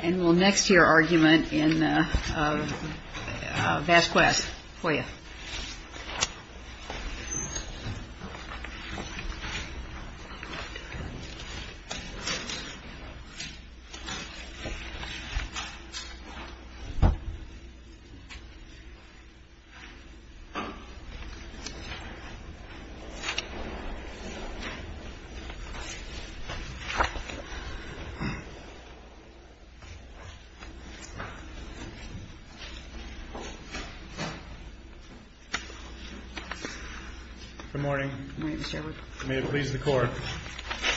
And we'll next hear argument in Vasquez-Hoyos.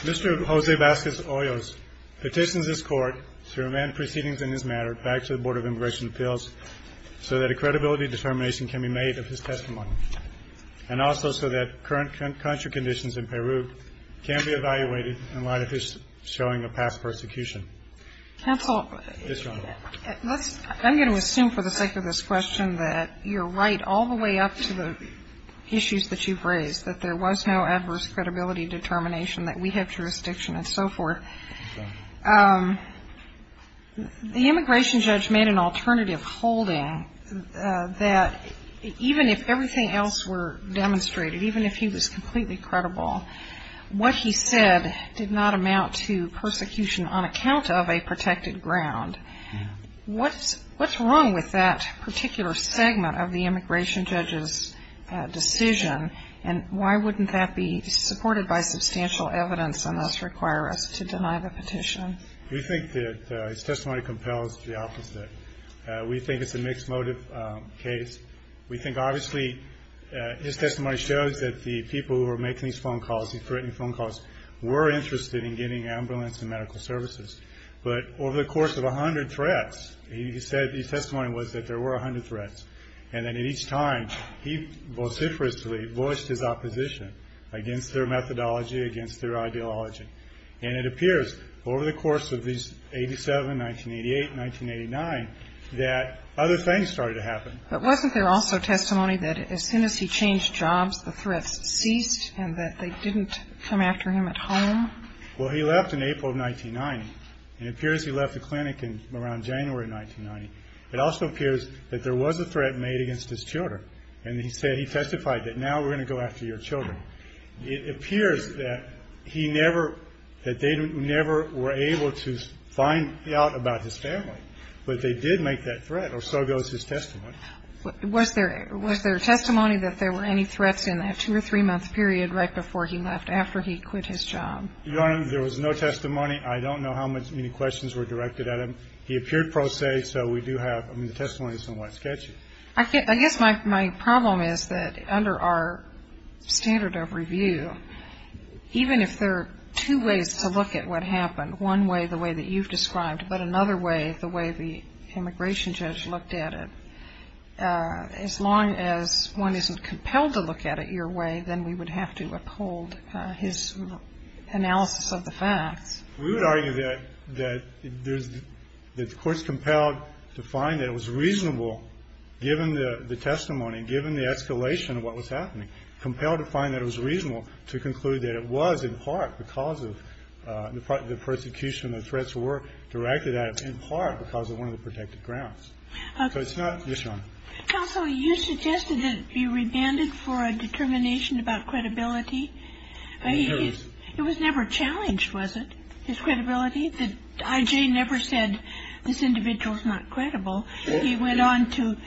Mr. Vasquez-Hoyos petitions this Court to amend proceedings in this matter back to the Board of Immigration Appeals so that a credibility determination can be made of his testimony, and also so that current country conditions in Peru can be evaluated in light of his showing of past persecution. Counsel, I'm going to assume for the sake of this question that you're right all the way up to the issues that you've raised, that there was no adverse credibility determination, that we have jurisdiction and so forth. The immigration judge made an alternative holding that even if everything else were demonstrated, even if he was completely credible, what he said did not amount to persecution on account of a protected ground. What's wrong with that particular segment of the immigration judge's decision, and why wouldn't that be supported by substantial evidence and thus require us to deny the petition? We think that his testimony compels the opposite. We think it's a mixed motive case. We think obviously his testimony shows that the people who were making these phone calls, threatening phone calls, were interested in getting ambulance and medical services. But over the course of 100 threats, he said his testimony was that there were 100 threats. And then at each time, he vociferously voiced his opposition against their methodology, against their ideology. And it appears over the course of these 87, 1988, 1989, that other things started to happen. But wasn't there also testimony that as soon as he changed jobs, the threats ceased and that they didn't come after him at home? Well, he left in April of 1990. It appears he left the clinic around January of 1990. It also appears that there was a threat made against his children. And he said, he testified that now we're going to go after your children. It appears that he never, that they never were able to find out about his family. But they did make that threat, or so goes his testimony. Was there testimony that there were any threats in that two or three-month period right before he left, after he quit his job? Your Honor, there was no testimony. I don't know how many questions were directed at him. He appeared pro se, so we do have, I mean, the testimony is somewhat sketchy. I guess my problem is that under our standard of review, even if there are two ways to look at what happened, one way the way that you've described, but another way the way the immigration judge looked at it, as long as one isn't compelled to look at it your way, then we would have to uphold his analysis of the facts. We would argue that there's, that the Court's compelled to find that it was reasonable, given the testimony, given the escalation of what was happening, compelled to find that it was reasonable to conclude that it was in part because of the prosecution and the threats were directed at him, in part because of one of the protected grounds. So it's not. Counsel, you suggested that it be rebanded for a determination about credibility. It was never challenged, was it? His credibility? The I.J. never said this individual is not credible. He went on to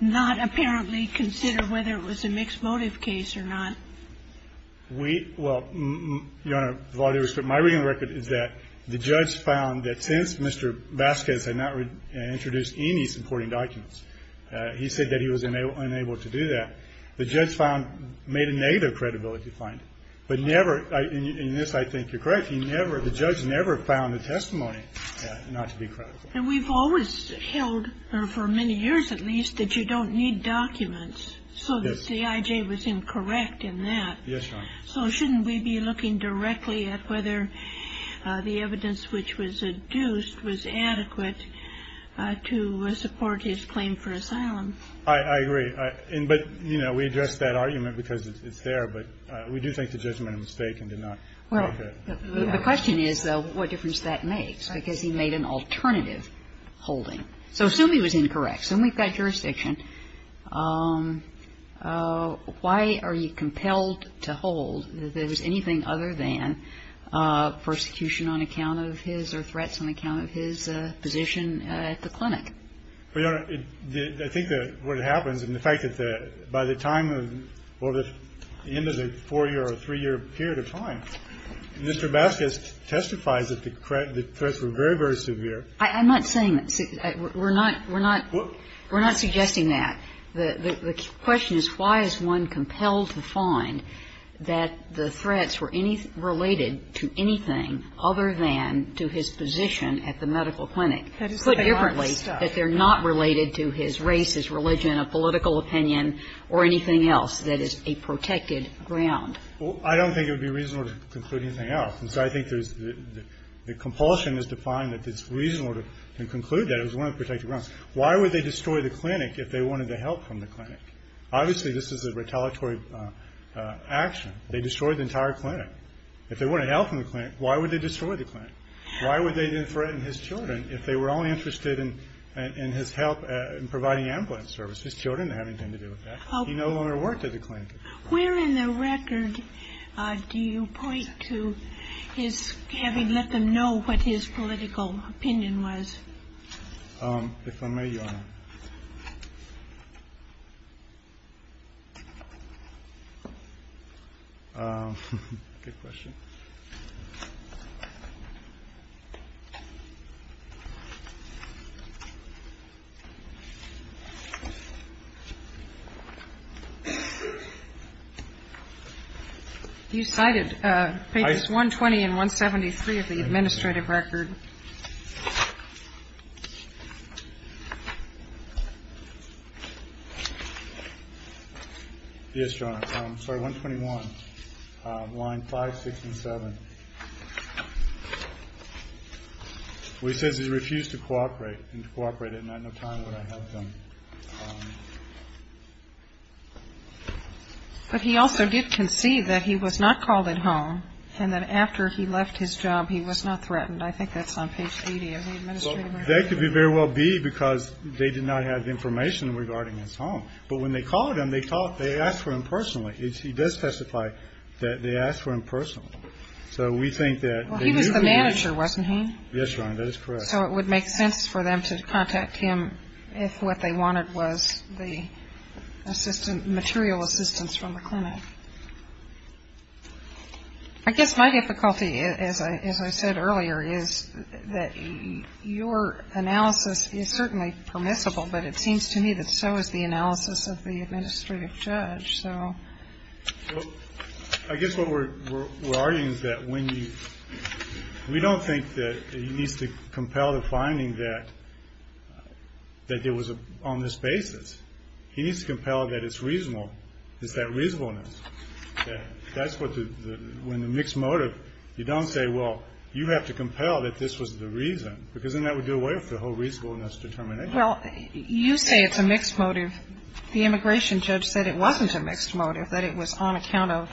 not apparently consider whether it was a mixed motive case or not. We, well, Your Honor, with all due respect, my reading of the record is that the judge found that since Mr. Vasquez had not introduced any supporting documents, he said that he was unable to do that. The judge found, made a negative credibility finding, but never, and in this I think you're correct, he never, the judge never found the testimony not to be credible. And we've always held, or for many years at least, that you don't need documents. So the C.I.J. was incorrect in that. Yes, Your Honor. So shouldn't we be looking directly at whether the evidence which was adduced was adequate to support his claim for asylum? I agree. But, you know, we addressed that argument because it's there. But we do think the judgment was fake and did not make it. Well, the question is, though, what difference that makes, because he made an alternative holding. So assume he was incorrect. So we've got jurisdiction. Why are you compelled to hold that there was anything other than persecution on account of his or threats on account of his position at the clinic? Well, Your Honor, I think what happens, and the fact that by the time of, well, the end of the four-year or three-year period of time, Mr. Vasquez testifies that the threats were very, very severe. I'm not saying that. We're not suggesting that. The question is, why is one compelled to find that the threats were related to anything other than to his position at the medical clinic? Put differently, that they're not related to his race, his religion, a political opinion or anything else that is a protected ground. Well, I don't think it would be reasonable to conclude anything else. And so I think there's the compulsion is to find that it's reasonable to conclude that it was one of the protected grounds. Why would they destroy the clinic if they wanted the help from the clinic? Obviously, this is a retaliatory action. They destroyed the entire clinic. If they wanted help from the clinic, why would they destroy the clinic? Why would they threaten his children if they were only interested in his help in providing ambulance service? His children have nothing to do with that. He no longer worked at the clinic. Where in the record do you point to his having let them know what his political opinion was? If I may, Your Honor. Good question. You cited pages 120 and 173 of the administrative record. Yes, Your Honor. I'm sorry, 121, line 567. Well, he says he refused to cooperate and to cooperate at night. No time would I have them. But he also did concede that he was not called at home and that after he left his job, he was not threatened. I think that's on page 80 of the administrative record. Well, that could very well be because they did not have information regarding his home. But when they called him, they asked for him personally. He does specify that they asked for him personally. So we think that they did. Well, he was the manager, wasn't he? Yes, Your Honor. That is correct. So it would make sense for them to contact him if what they wanted was the material assistance from the clinic. I guess my difficulty, as I said earlier, is that your analysis is certainly permissible, but it seems to me that so is the analysis of the administrative judge. I guess what we're arguing is that we don't think that he needs to compel the finding that there was on this basis. He needs to compel that it's reasonable. That's when the mixed motive, you don't say, well, you have to compel that this was the reason, because then that would do away with the whole reasonableness determination. Well, you say it's a mixed motive. The immigration judge said it wasn't a mixed motive, that it was on account of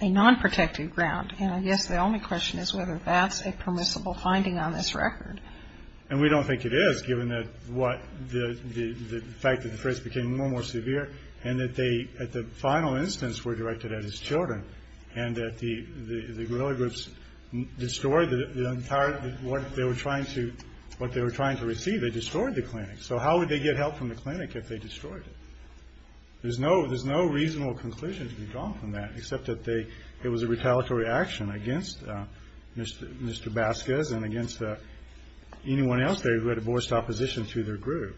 a non-protective ground. And I guess the only question is whether that's a permissible finding on this record. And we don't think it is, given the fact that the threats became more and more severe and that they, at the final instance, were directed at his children and that the guerrilla groups destroyed what they were trying to receive. They destroyed the clinic. So how would they get help from the clinic if they destroyed it? There's no reasonable conclusion to be drawn from that except that it was a retaliatory action against Mr. Vasquez and against anyone else there who had a voiced opposition to their group.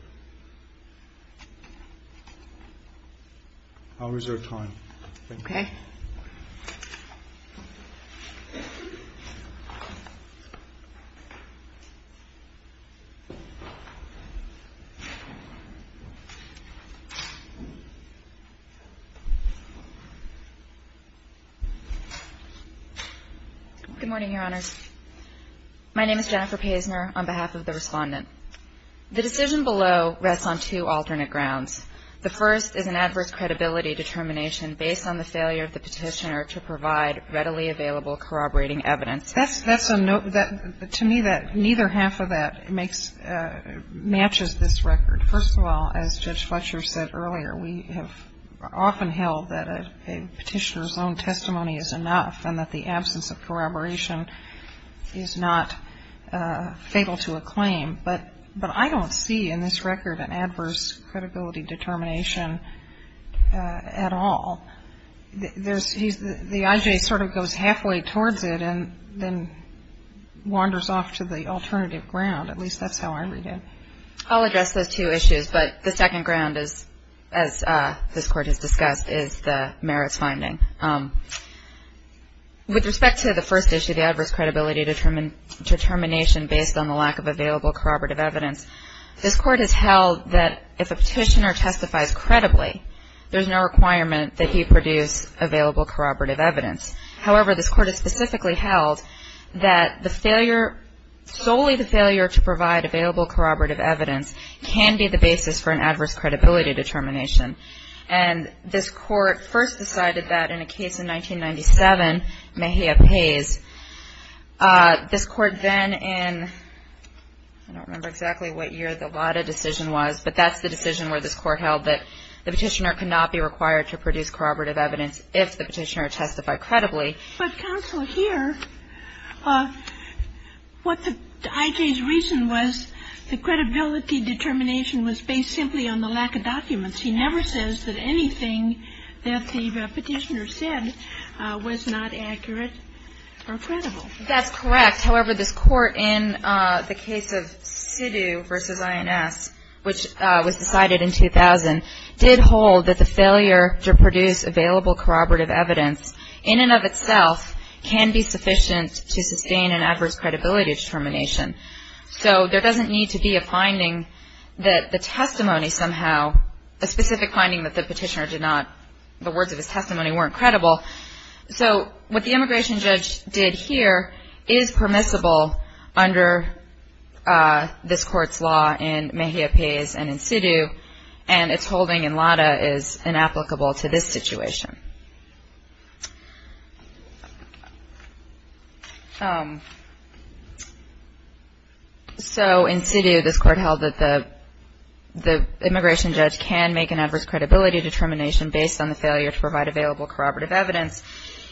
I'll reserve time. Thank you. Okay. Good morning, Your Honors. My name is Jennifer Paisner on behalf of the Respondent. The decision below rests on two alternate grounds. The first is an adverse credibility determination based on the failure of the petitioner to provide readily available corroborating evidence. To me, neither half of that matches this record. First of all, as Judge Fletcher said earlier, we have often held that a petitioner's own testimony is enough and that the absence of corroboration is not fatal to a claim. But I don't see in this record an adverse credibility determination at all. The IJ sort of goes halfway towards it and then wanders off to the alternative ground. At least that's how I read it. I'll address those two issues, but the second ground, as this Court has discussed, is the merits finding. With respect to the first issue, the adverse credibility determination based on the lack of available corroborative evidence, this Court has held that if a petitioner testifies credibly, there's no requirement that he produce available corroborative evidence. However, this Court has specifically held that the failure, solely the failure to provide available corroborative evidence, can be the basis for an adverse credibility determination. And this Court first decided that in a case in 1997, Mejia Pays. This Court then in, I don't remember exactly what year the Lada decision was, but that's the decision where this Court held that the petitioner cannot be required to produce corroborative evidence if the petitioner testified credibly. But counsel, here, what the IJ's reason was the credibility determination was based simply on the lack of documents. He never says that anything that the petitioner said was not accurate or credible. That's correct. However, this Court in the case of Sidhu v. INS, which was decided in 2000, did hold that the failure to produce available corroborative evidence in and of itself can be sufficient to sustain an adverse credibility determination. So there doesn't need to be a finding that the testimony somehow, a specific finding that the petitioner did not, the words of his testimony weren't credible. So what the immigration judge did here is permissible under this Court's law in Mejia Pays and in Sidhu, and its holding in Lada is inapplicable to this situation. So in Sidhu, this Court held that the immigration judge can make an adverse credibility determination based on the failure to provide available corroborative evidence.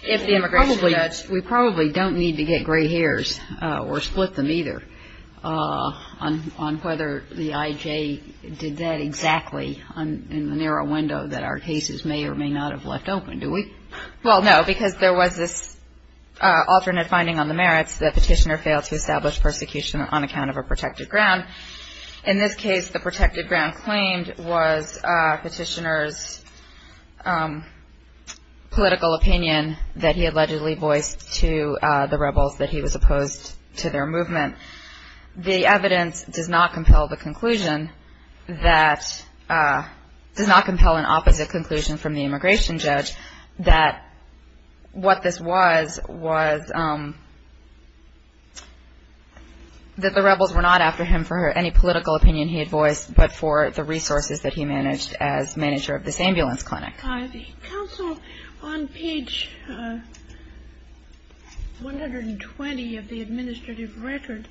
If the immigration judge we probably don't need to get gray hairs or split them either on whether the IJ did that exactly in the narrow window that our cases may or may not have left open. Well, no, because there was this alternate finding on the merits that the petitioner failed to establish persecution on account of a protected ground. In this case, the protected ground claimed was petitioner's political opinion that he allegedly voiced to the rebels that he was opposed to their movement. The evidence does not compel the conclusion that, does not compel an opposite conclusion from the immigration judge that what this was was that the rebels were not after him for any political opinion he had voiced but for the resources that he managed as manager of this ambulance clinic. Counsel, on page 120 of the administrative record,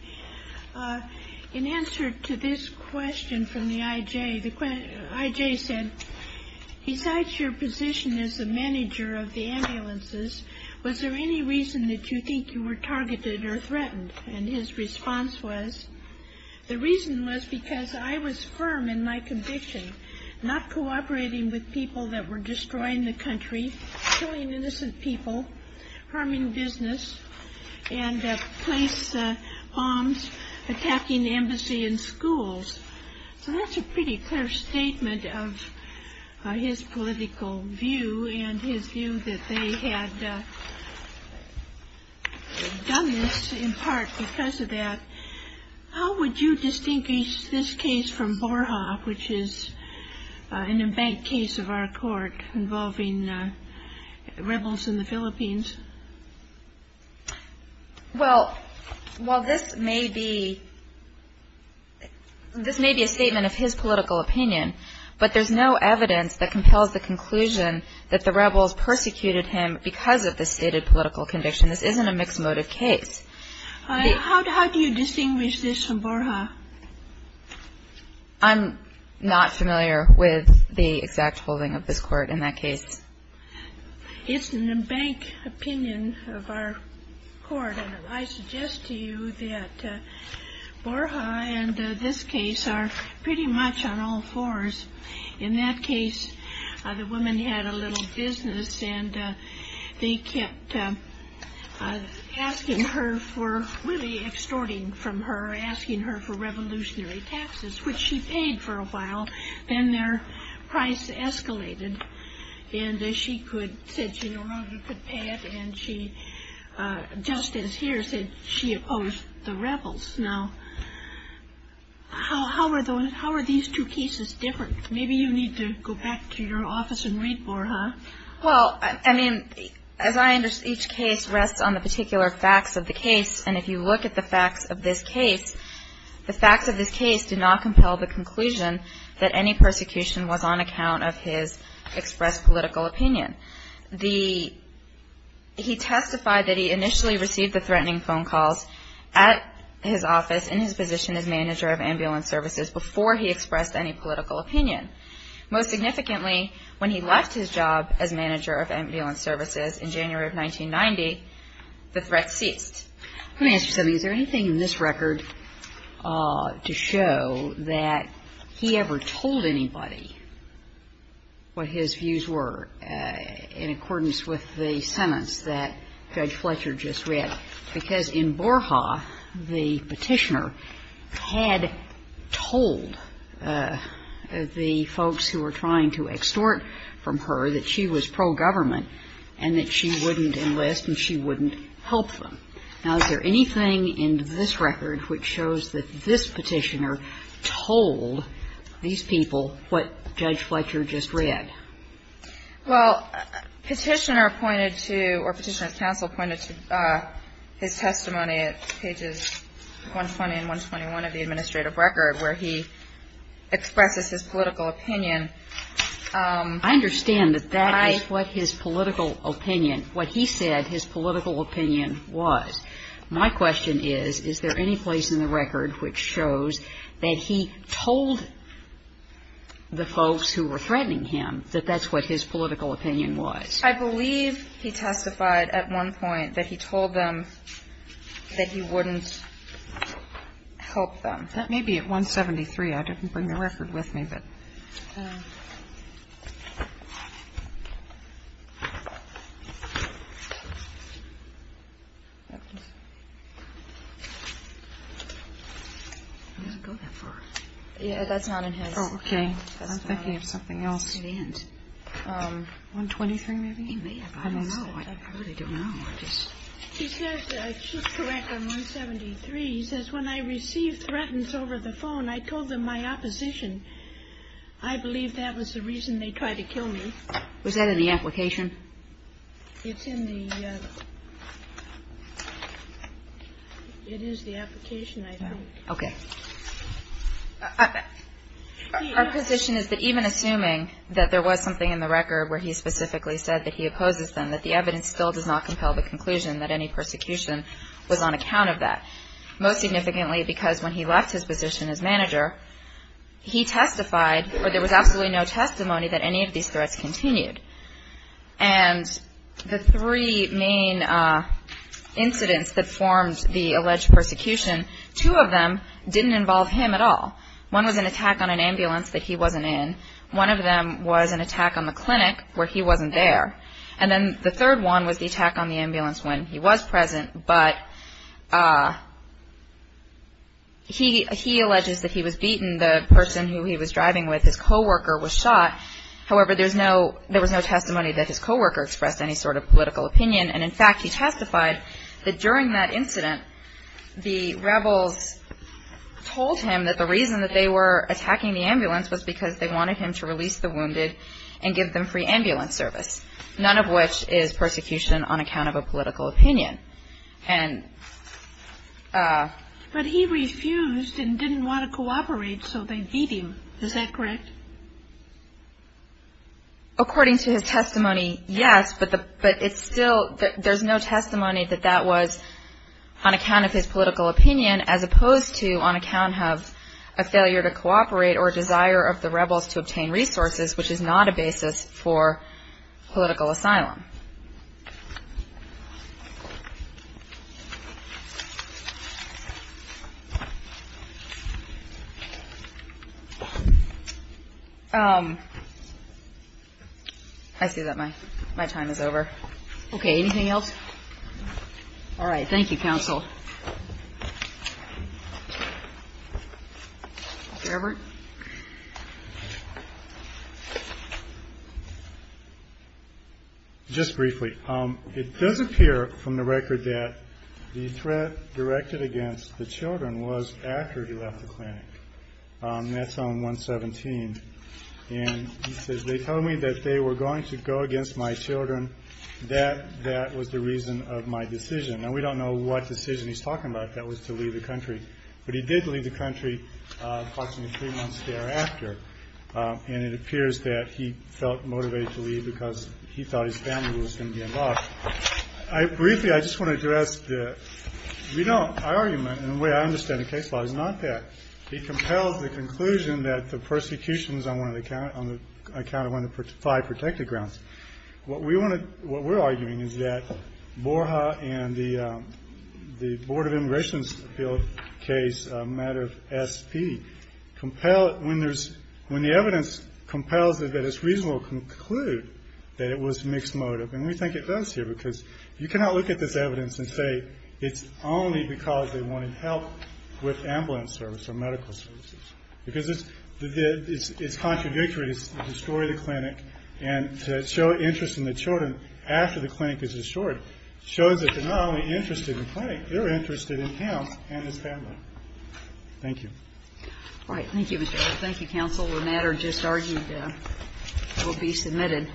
in answer to this question from the IJ, the IJ said, besides your position as a manager of the ambulances, was there any reason that you think you were targeted or threatened? And his response was, the reason was because I was firm in my conviction, not cooperating with people that were destroying the country, killing innocent people, harming business, and place bombs attacking the embassy and schools. So that's a pretty clear statement of his political view and his view that they had done this in part because of that. How would you distinguish this case from Borha, which is an embanked case of our court involving rebels in the Philippines? Well, this may be a statement of his political opinion, but there's no evidence that compels the conclusion that the rebels persecuted him because of this stated political conviction. This isn't a mixed motive case. How do you distinguish this from Borha? I'm not familiar with the exact holding of this court in that case. It's an embanked opinion of our court, and I suggest to you that Borha and this case are pretty much on all fours. In that case, the woman had a little business, and they kept asking her for, really extorting from her, asking her for revolutionary taxes, which she paid for a while. Then their price escalated, and she said she no longer could pay it, and she, just as here, said she opposed the rebels. Now, how are these two cases different? Maybe you need to go back to your office and read Borha. Well, I mean, as I understand, each case rests on the particular facts of the case, and if you look at the facts of this case, the facts of this case do not compel the conclusion that any persecution was on account of his expressed political opinion. He testified that he initially received the threatening phone calls at his office, in his position as manager of ambulance services, before he expressed any political opinion. Most significantly, when he left his job as manager of ambulance services in January of 1990, the threat ceased. Let me ask you something. Is there anything in this record to show that he ever told anybody what his views were in accordance with the sentence that Judge Fletcher just read? Because in Borha, the petitioner had told the folks who were trying to extort from her that she was pro-government and that she wouldn't enlist and she wouldn't help them. Now, is there anything in this record which shows that this petitioner told these people what Judge Fletcher just read? Well, Petitioner pointed to, or Petitioner's counsel pointed to, his testimony at pages 120 and 121 of the administrative record, where he expresses his political opinion. I understand that that is what his political opinion, what he said his political opinion was. My question is, is there any place in the record which shows that he told the folks who were threatening him that that's what his political opinion was? I believe he testified at one point that he told them that he wouldn't help them. That may be at 173. I didn't bring the record with me. I don't have it. It doesn't go that far. Yeah, that's not in his. Okay. I'm thinking of something else. 123 maybe? I don't know. I really don't know. He says, I keep correct on 173, he says, When I received threatens over the phone, I told them my opposition. I believe that was the reason they tried to kill me. Was that in the application? It's in the, it is the application, I think. Okay. Our position is that even assuming that there was something in the record where he specifically said that he opposes them, that the evidence still does not compel the conclusion that any persecution was on account of that. Most significantly, because when he left his position as manager, he testified, or there was absolutely no testimony that any of these threats continued. And the three main incidents that formed the alleged persecution, two of them didn't involve him at all. One was an attack on an ambulance that he wasn't in. One of them was an attack on the clinic where he wasn't there. And then the third one was the attack on the ambulance when he was present. But he alleges that he was beaten. The person who he was driving with, his co-worker, was shot. However, there was no testimony that his co-worker expressed any sort of political opinion. And, in fact, he testified that during that incident, the rebels told him that the reason that they were attacking the ambulance was because they wanted him to release the wounded and give them free ambulance service. None of which is persecution on account of a political opinion. But he refused and didn't want to cooperate, so they beat him. Is that correct? According to his testimony, yes. But it's still, there's no testimony that that was on account of his political opinion, as opposed to on account of a failure to cooperate or desire of the rebels to obtain resources, which is not a basis for political asylum. I see that my time is over. Okay, anything else? All right. Thank you, counsel. Mr. Everett? Just briefly. It does appear from the record that the threat directed against the children was after he left the clinic. That's on 117. And he says, they told me that they were going to go against my children. That was the reason of my decision. Now, we don't know what decision he's talking about, if that was to leave the country. But he did leave the country approximately three months thereafter. And it appears that he felt motivated to leave because he thought his family was going to be involved. Briefly, I just want to address the argument, and the way I understand the case law, is not that. He compels the conclusion that the persecution was on account of one of the five protected grounds. What we're arguing is that Borja and the Board of Immigration's appeal case, a matter of SP, when the evidence compels that it's reasonable to conclude that it was mixed motive. And we think it does here because you cannot look at this evidence and say it's only because they wanted help with ambulance service or medical services. Because it's contradictory to the story of the clinic. And to show interest in the children after the clinic is destroyed, shows that they're not only interested in the clinic, they're interested in him and his family. Thank you. All right. Thank you, Mr. Wright. Thank you, counsel. The matter just argued will be submitted.